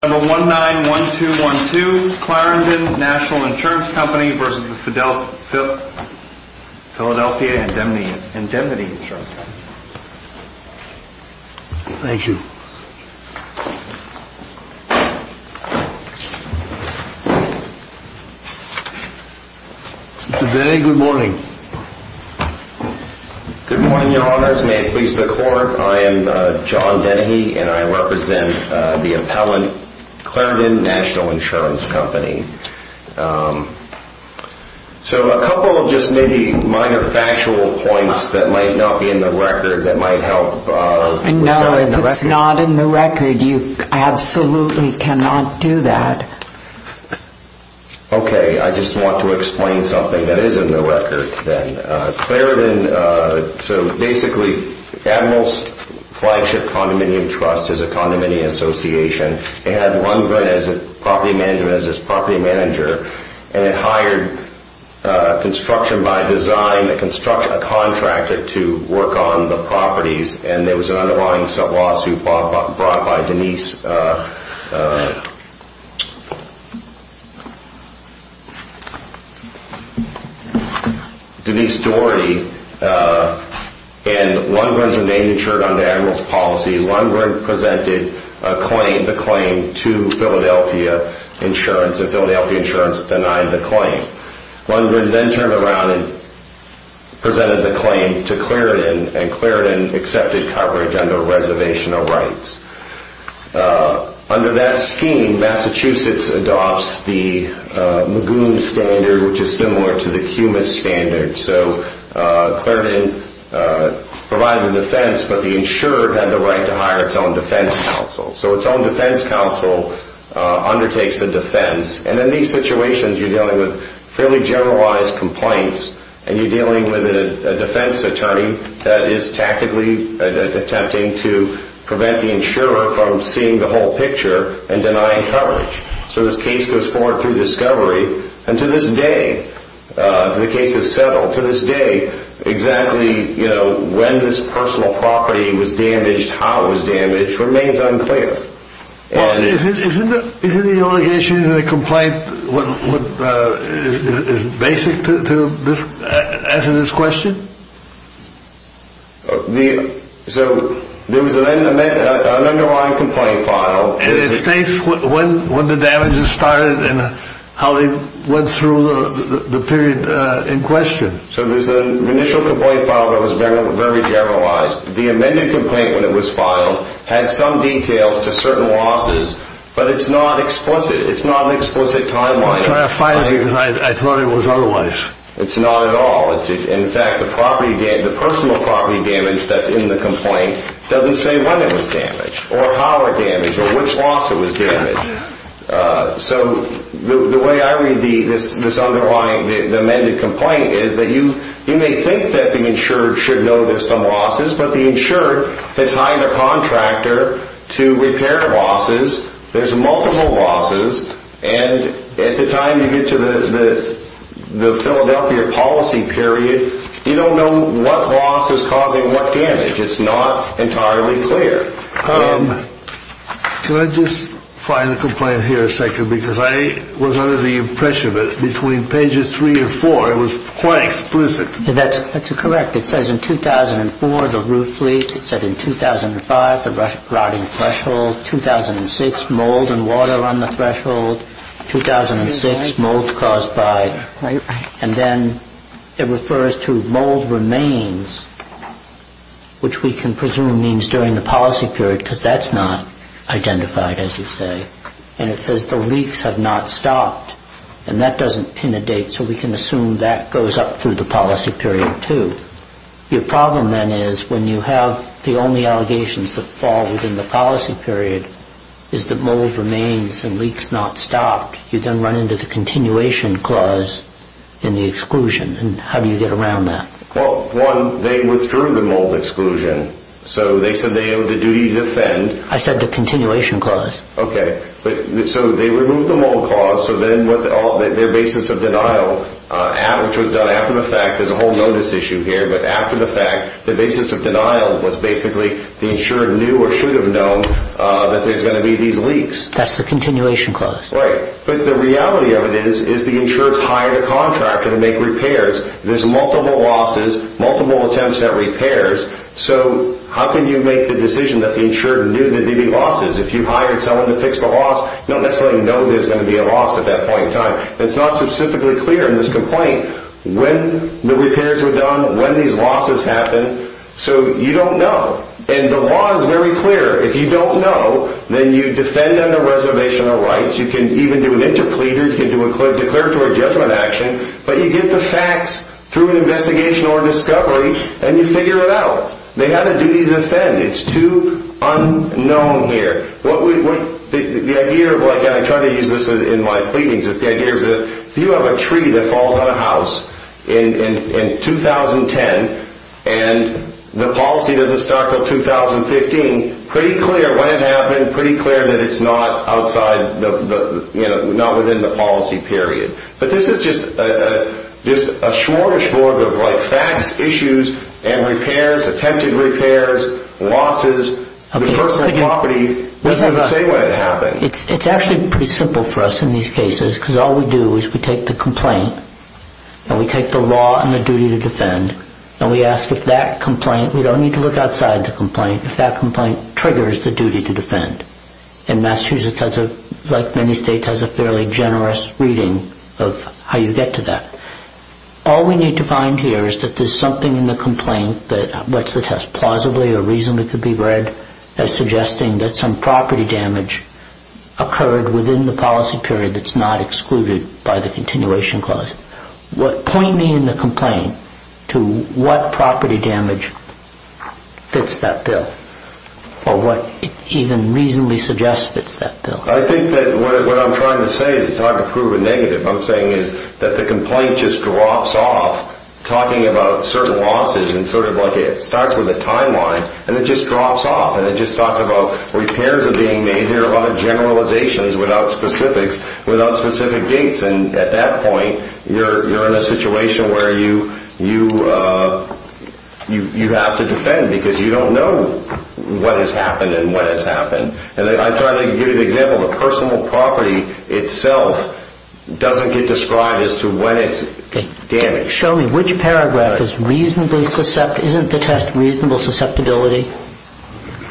Thank you. Mr. Dennehy, good morning. Good morning, your honors. May it please the court, I am John Dennehy and I represent the appellant, Clarendon National Insurance Company. So a couple of just maybe minor factual points that might not be in the record that might help. No, if it's not in the record, you absolutely cannot do that. Okay, I just want to explain something that is in the record then. Clarendon, so basically Admirals Flagship Condominium Trust is a condominium association. It had Lundgren as its property manager and it hired construction by design, a contractor to work on the properties and there was an underlying lawsuit brought by Denise Doherty and Lundgren's name was insured under admirals policy. Lundgren presented the claim to Philadelphia Insurance and Philadelphia Insurance denied the claim. Lundgren then turned around and presented the claim to Clarendon and Clarendon accepted coverage under reservational rights. Under that scheme, Massachusetts adopts the Magoon standard which is similar to the Cumas standard. So Clarendon provided the defense but the insurer had the right to hire its own defense counsel. So its own defense counsel undertakes the defense. And in these situations, you're dealing with fairly generalized complaints and you're dealing with a defense attorney that is tactically attempting to prevent the insurer from seeing the whole picture and denying coverage. So this case goes forward through discovery and to this day, the case is settled. To this day, exactly when this personal property was damaged, how it was damaged remains unclear. Isn't the allegation in the complaint basic to answering this question? So there was an underlying complaint filed. And it states when the damages started and how they went through the period in question. So there's an initial complaint filed that was very generalized. The amended complaint when it was filed had some details to certain losses but it's not explicit. It's not an explicit timeline. I'm trying to find it because I thought it was otherwise. It's not at all. In fact, the personal property damage that's in the complaint doesn't say when it was damaged or how it was damaged or which loss it was damaged. So the way I read this underlying, the amended complaint is that you may think that the insurer should know there's some losses but the insurer has hired a contractor to repair losses. There's multiple losses. And at the time you get to the Philadelphia policy period, you don't know what loss is causing what damage. It's not entirely clear. Can I just find the complaint here a second because I was under the impression that between pages three and four it was quite explicit. That's correct. It says in 2004, the roof leak. It said in 2005, the rotting threshold. 2006, mold and water on the threshold. 2006, mold caused by. And then it refers to mold remains which we can presume means during the policy period because that's not identified as you say. And it says the leaks have not stopped and that doesn't pin a date so we can assume that goes up through the policy period too. Your problem then is when you have the only allegations that fall within the policy period is that mold remains and leaks not stopped. You then run into the continuation clause in the exclusion. And how do you get around that? Well, one, they withdrew the mold exclusion. So they said they owed the duty to defend. I said the continuation clause. Okay. So they removed the mold clause. So then their basis of denial, which was done after the fact. There's a whole notice issue here. But after the fact, the basis of denial was basically the insured knew or should have known that there's going to be these leaks. That's the continuation clause. Right. But the reality of it is the insured's hired a contractor to make repairs. There's multiple losses, multiple attempts at repairs. So how can you make the decision that the insured knew that there'd be losses? If you hired someone to fix the loss, you don't necessarily know there's going to be a loss at that point in time. It's not specifically clear in this complaint when the repairs were done, when these losses happened. So you don't know. And the law is very clear. If you don't know, then you defend under reservation of rights. You can even do an interpleader. You can do a declaratory judgment action. But you get the facts through an investigation or discovery, and you figure it out. They have a duty to defend. It's too unknown here. The idea of like, and I try to use this in my pleadings, is the idea is that if you have a tree that falls on a house in 2010, and the policy doesn't start until 2015, pretty clear when it happened, pretty clear that it's not outside, you know, not within the policy period. But this is just a smorgasbord of like facts, issues, and repairs, attempted repairs, losses. The person in property doesn't know the same way it happened. It's actually pretty simple for us in these cases, because all we do is we take the complaint, and we take the law and the duty to defend, and we ask if that complaint, we don't need to look outside the complaint, if that complaint triggers the duty to defend. And Massachusetts has a, like many states, has a fairly generous reading of how you get to that. All we need to find here is that there's something in the complaint that, what's the test, plausibly or reasonably could be read, as suggesting that some property damage occurred within the policy period that's not excluded by the continuation clause. Point me in the complaint to what property damage fits that bill, or what even reasonably suggests fits that bill. I think that what I'm trying to say is it's hard to prove a negative. What I'm saying is that the complaint just drops off, talking about certain losses, and sort of like it starts with a timeline, and it just drops off, and it just talks about repairs are being made. There are other generalizations without specifics, without specific dates. And at that point, you're in a situation where you have to defend because you don't know what has happened and what has happened. And I'm trying to give you an example. The personal property itself doesn't get described as to when it's damaged. Show me which paragraph is reasonably, isn't the test reasonable susceptibility?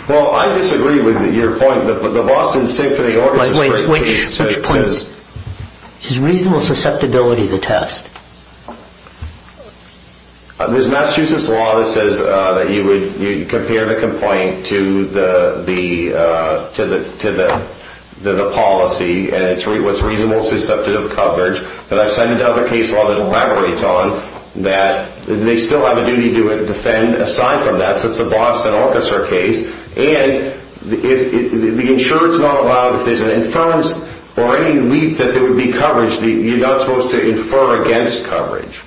Well, I disagree with your point. Which point? Is reasonable susceptibility the test? There's Massachusetts law that says that you would compare the complaint to the policy, and it's what's reasonable susceptible coverage. But I've sent another case law that elaborates on that. They still have a duty to defend aside from that, so it's a Boston Orchestra case. And the insurance law allows if there's an inference or any leak that there would be coverage, you're not supposed to infer against coverage.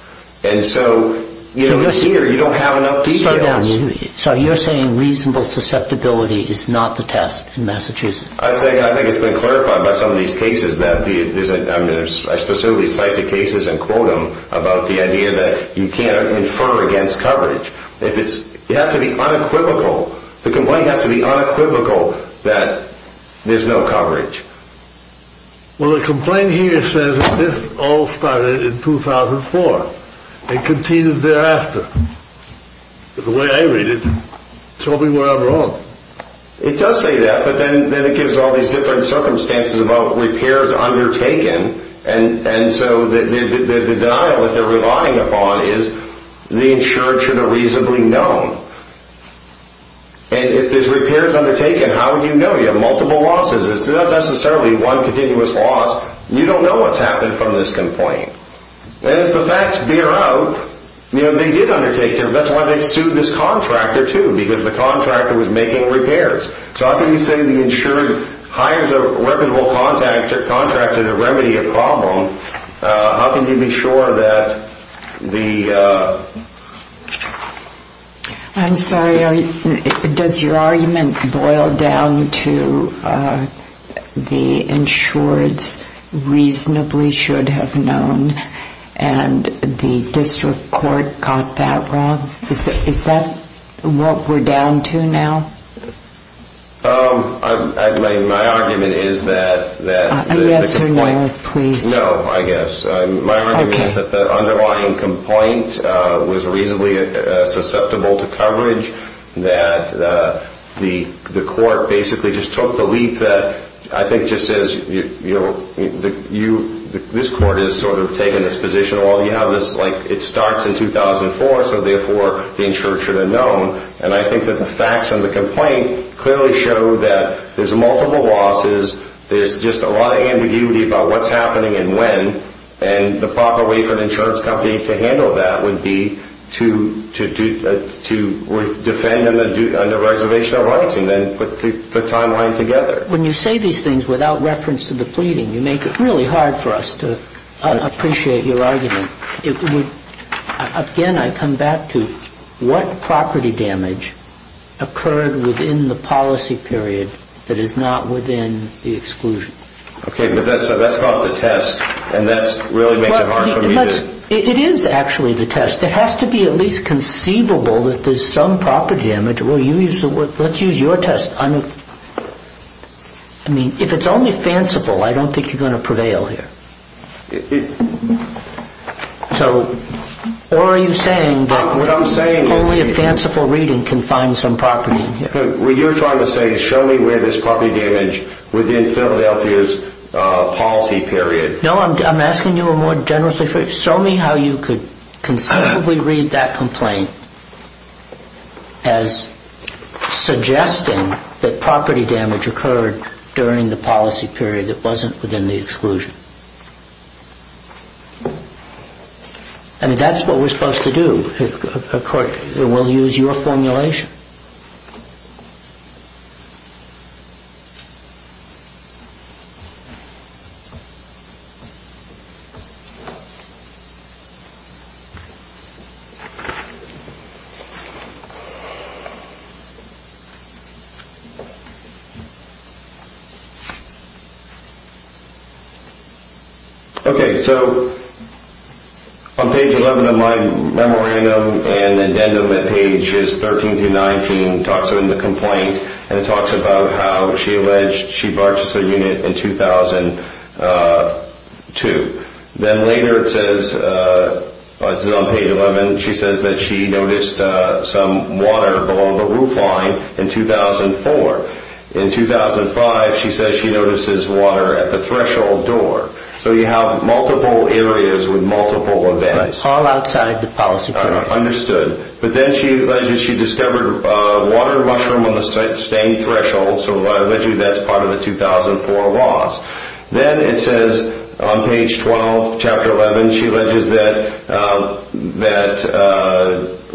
And so here, you don't have enough details. So you're saying reasonable susceptibility is not the test in Massachusetts? I think it's been clarified by some of these cases. I specifically cite the cases and quote them about the idea that you can't infer against coverage. It has to be unequivocal. The complaint has to be unequivocal that there's no coverage. Well, the complaint here says that this all started in 2004 and continued thereafter. The way I read it, show me where I'm wrong. It does say that, but then it gives all these different circumstances about repairs undertaken. And so the denial that they're relying upon is the insured should have reasonably known. And if there's repairs undertaken, how would you know? You have multiple losses. It's not necessarily one continuous loss. You don't know what's happened from this complaint. And as the facts bear out, you know, they did undertake. That's why they sued this contractor, too, because the contractor was making repairs. So how can you say the insured hires a weaponable contractor to remedy a problem? How can you be sure that the ‑‑ I'm sorry, does your argument boil down to the insureds reasonably should have known and the district court got that wrong? Is that what we're down to now? My argument is that the complaint ‑‑ Yes or no, please. No, I guess. My argument is that the underlying complaint was reasonably susceptible to coverage, that the court basically just took the leap that I think just says, you know, this court has sort of taken this position. It starts in 2004, so therefore the insured should have known. And I think that the facts in the complaint clearly show that there's multiple losses. There's just a lot of ambiguity about what's happening and when. And the proper way for the insurance company to handle that would be to defend under reservation of rights and then put the timeline together. When you say these things without reference to the pleading, you make it really hard for us to appreciate your argument. Again, I come back to what property damage occurred within the policy period that is not within the exclusion. Okay, but that's not the test and that really makes it hard for me to ‑‑ It is actually the test. It has to be at least conceivable that there's some property damage. Let's use your test. I mean, if it's only fanciful, I don't think you're going to prevail here. Or are you saying that only a fanciful reading can find some property in here? What you're trying to say is show me where there's property damage within Philadelphia's policy period. No, I'm asking you more generously. Show me how you could conceivably read that complaint as suggesting that property damage occurred during the policy period that wasn't within the exclusion. I mean, that's what we're supposed to do. Of course, we'll use your formulation. Okay, so on page 11 of my memorandum and addendum at pages 13 through 19, it talks about the complaint and it talks about how she alleged she purchased a unit in 2002. Then later it says, on page 11, she says that she noticed some water below the roof line in 2004. In 2005, she says she notices water at the threshold door. So you have multiple areas with multiple events. All outside the policy period. Understood. But then she alleged she discovered water mushroom on the same threshold, so allegedly that's part of the 2004 loss. Then it says on page 12, chapter 11, she alleges that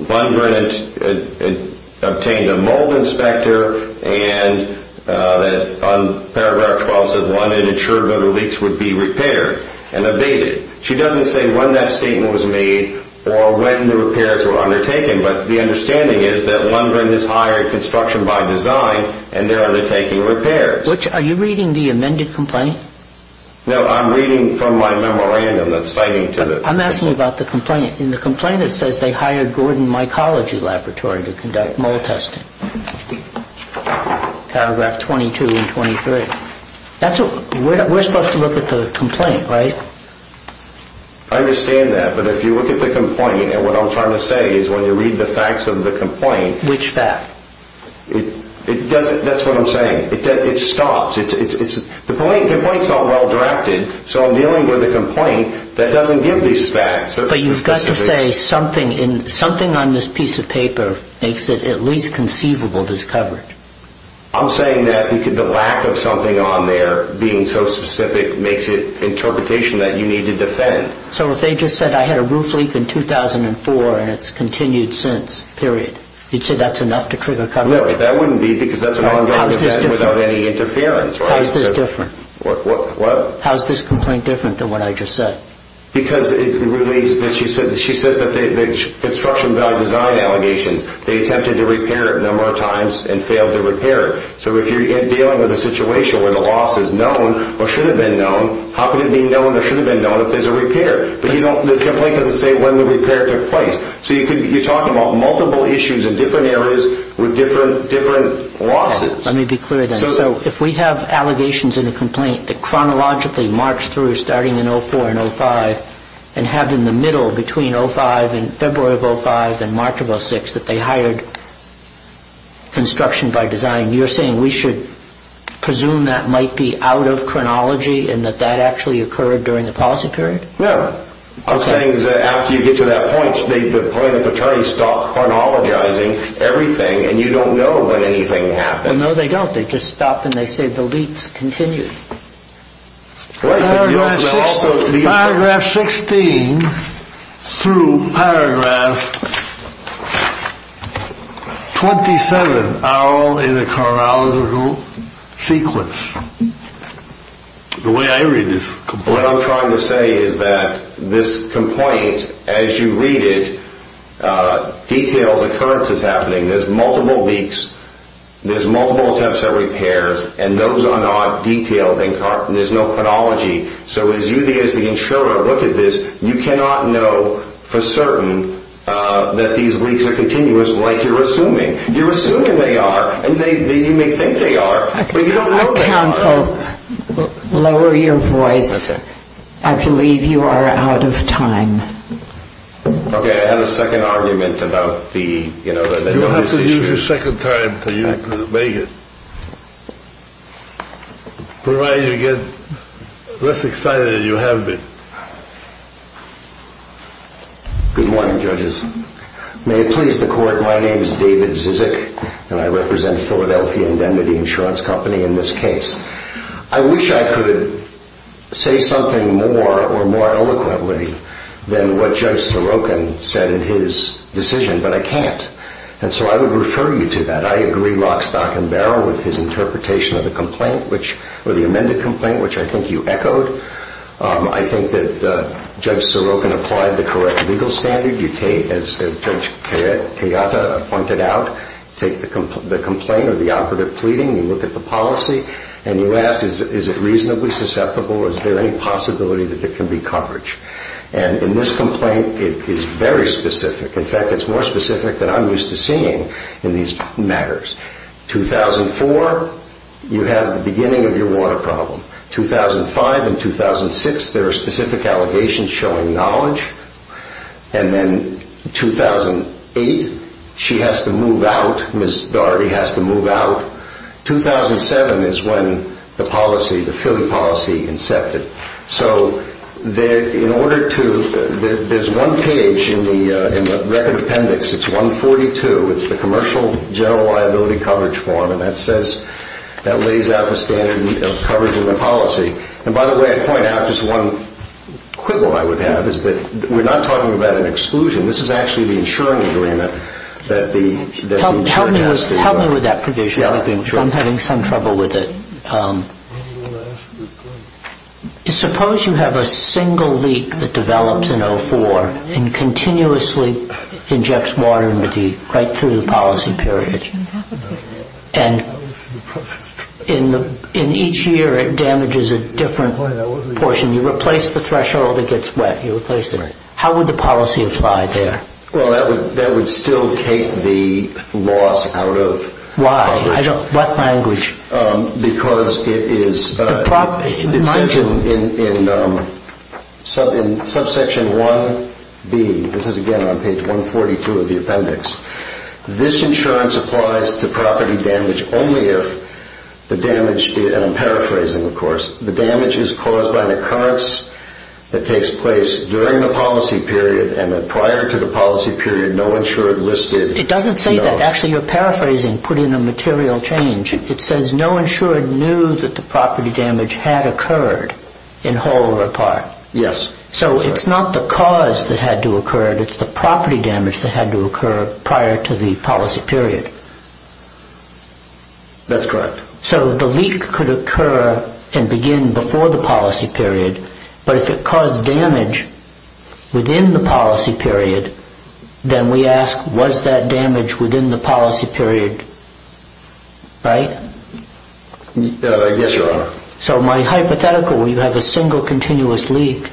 Lundgren obtained a mold inspector and that on paragraph 12, it says Lundgren insured that her leaks would be repaired and updated. She doesn't say when that statement was made or when the repairs were undertaken, but the understanding is that Lundgren has hired construction by design and they're undertaking repairs. Are you reading the amended complaint? No, I'm reading from my memorandum that's citing to the complaint. I'm asking about the complaint. In the complaint, it says they hired Gordon Mycology Laboratory to conduct mold testing, paragraph 22 and 23. We're supposed to look at the complaint, right? I understand that, but if you look at the complaint and what I'm trying to say is when you read the facts of the complaint. Which fact? That's what I'm saying. It stops. The complaint's not well-drafted, so I'm dealing with a complaint that doesn't give these facts. But you've got to say something on this piece of paper makes it at least conceivable there's coverage. I'm saying that the lack of something on there being so specific makes it interpretation that you need to defend. So if they just said I had a roof leak in 2004 and it's continued since, period, you'd say that's enough to trigger coverage? No, that wouldn't be because that's an ongoing offense without any interference. How is this different? What? How is this complaint different than what I just said? Because it relates that she says that the construction value design allegations, they attempted to repair it a number of times and failed to repair it. So if you're dealing with a situation where the loss is known or should have been known, how could it be known or should have been known if there's a repair? But the complaint doesn't say when the repair took place. So you're talking about multiple issues in different areas with different losses. Let me be clear then. So if we have allegations in a complaint that chronologically marched through starting in 2004 and 2005 and have in the middle between February of 2005 and March of 2006 that they hired construction by design, you're saying we should presume that might be out of chronology and that that actually occurred during the policy period? No. What I'm saying is that after you get to that point, the plaintiff attorney stopped chronologizing everything and you don't know when anything happens. No, they don't. They just stop and they say the leaps continue. Paragraph 16 through paragraph 27 are all in a chronological sequence. The way I read this complaint. What I'm trying to say is that this complaint, as you read it, details occurrences happening. There's multiple leaks. There's multiple attempts at repairs. And those are not detailed. There's no chronology. So as you as the insurer look at this, you cannot know for certain that these leaks are continuous like you're assuming. You're assuming they are. And you may think they are. Counsel, lower your voice. I believe you are out of time. Okay. I have a second argument about the, you know. You'll have to use your second time to make it. Provided you get less excited than you have been. Good morning, judges. May it please the court. My name is David Zizek, and I represent Philadelphia Indemnity Insurance Company in this case. I wish I could say something more or more eloquently than what Judge Sorokin said in his decision, but I can't. And so I would refer you to that. I agree rock, stock, and barrel with his interpretation of the complaint, or the amended complaint, which I think you echoed. I think that Judge Sorokin applied the correct legal standard. You take, as Judge Kayata pointed out, take the complaint or the operative pleading, you look at the policy, and you ask, is it reasonably susceptible, or is there any possibility that there can be coverage? And in this complaint, it is very specific. In fact, it's more specific than I'm used to seeing in these matters. 2004, you have the beginning of your water problem. 2005 and 2006, there are specific allegations showing knowledge. And then 2008, she has to move out. Ms. Darby has to move out. 2007 is when the policy, the Philly policy, incepted. So in order to, there's one page in the record appendix. It's 142. It's the commercial general liability coverage form, and that says, that lays out the standard of coverage in the policy. And by the way, I'd point out just one quibble I would have, is that we're not talking about an exclusion. This is actually the insuring agreement that the insured has to go. Help me with that provision, because I'm having some trouble with it. Suppose you have a single leak that develops in 2004 and continuously injects water into the, right through the policy period. And in each year, it damages a different portion. You replace the threshold, it gets wet. You replace it. How would the policy apply there? Well, that would still take the loss out of the policy. Why? What language? Because it is in subsection 1B. This is, again, on page 142 of the appendix. This insurance applies to property damage only if the damage, and I'm paraphrasing, of course, the damage is caused by an occurrence that takes place during the policy period, and then prior to the policy period, no insured listed. It doesn't say that. Actually, you're paraphrasing. Put in a material change. It says no insured knew that the property damage had occurred in whole or part. Yes. So it's not the cause that had to occur. It's the property damage that had to occur prior to the policy period. That's correct. So the leak could occur and begin before the policy period, but if it caused damage within the policy period, then we ask was that damage within the policy period, right? Yes, Your Honor. So my hypothetical where you have a single continuous leak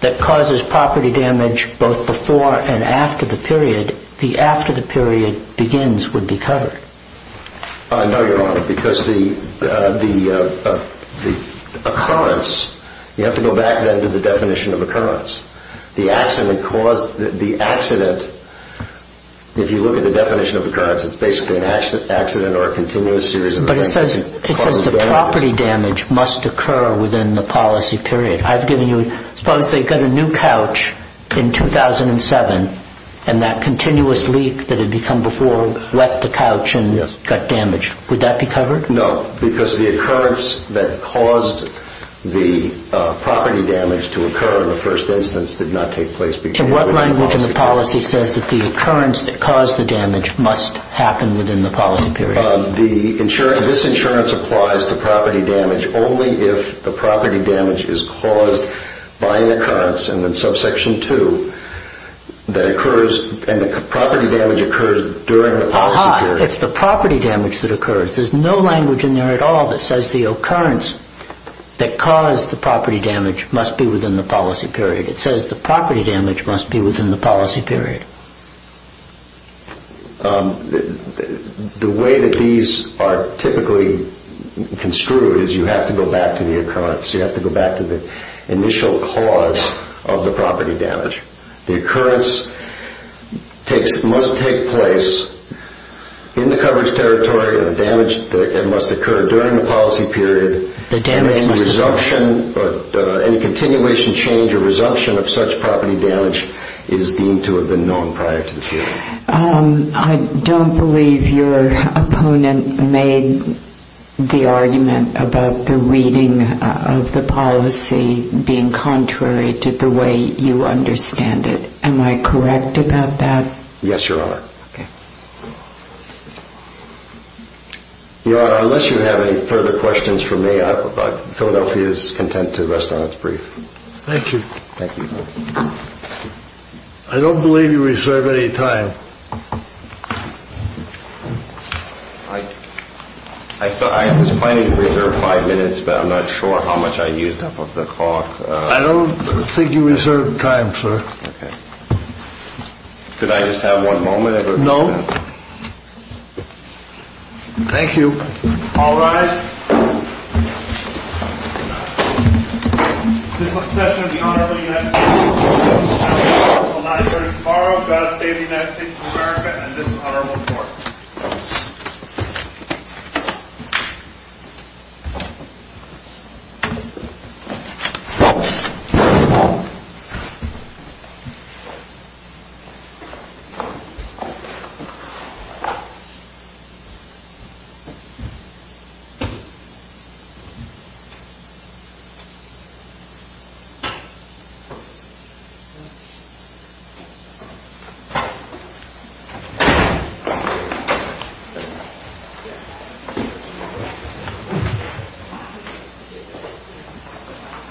that causes property damage both before and after the period, the after the period begins would be covered. No, Your Honor, because the occurrence, you have to go back then to the definition of occurrence. The accident caused, the accident, if you look at the definition of occurrence, it's basically an accident or a continuous series of events. But it says the property damage must occur within the policy period. I've given you, suppose they got a new couch in 2007, and that continuous leak that had become before wet the couch and got damaged. Would that be covered? No, because the occurrence that caused the property damage to occur in the first instance did not take place. So what language in the policy says that the occurrence that caused the damage must happen within the policy period? The insurance, this insurance applies to property damage only if the property damage is caused by an occurrence and then subsection 2 that occurs and the property damage occurs during the policy period. Aha, it's the property damage that occurs. There's no language in there at all that says the occurrence that caused the property damage must be within the policy period. It says the property damage must be within the policy period. The way that these are typically construed is you have to go back to the occurrence. You have to go back to the initial cause of the property damage. The occurrence must take place in the coverage territory and the damage must occur during the policy period. Any continuation change or resumption of such property damage is deemed to have been known prior to this hearing. I don't believe your opponent made the argument about the reading of the policy being contrary to the way you understand it. Am I correct about that? Yes, Your Honor. Okay. Your Honor, unless you have any further questions for me, Philadelphia is content to rest on its brief. Thank you. Thank you. I don't believe you reserve any time. I was planning to reserve five minutes, but I'm not sure how much I used up of the clock. I don't think you reserved time, sir. Okay. Could I just have one moment? No. Thank you. All rise. This was a session of the Honorable United States Court. I will not adjourn until tomorrow. God save the United States of America and this is Honorable Court. Thank you.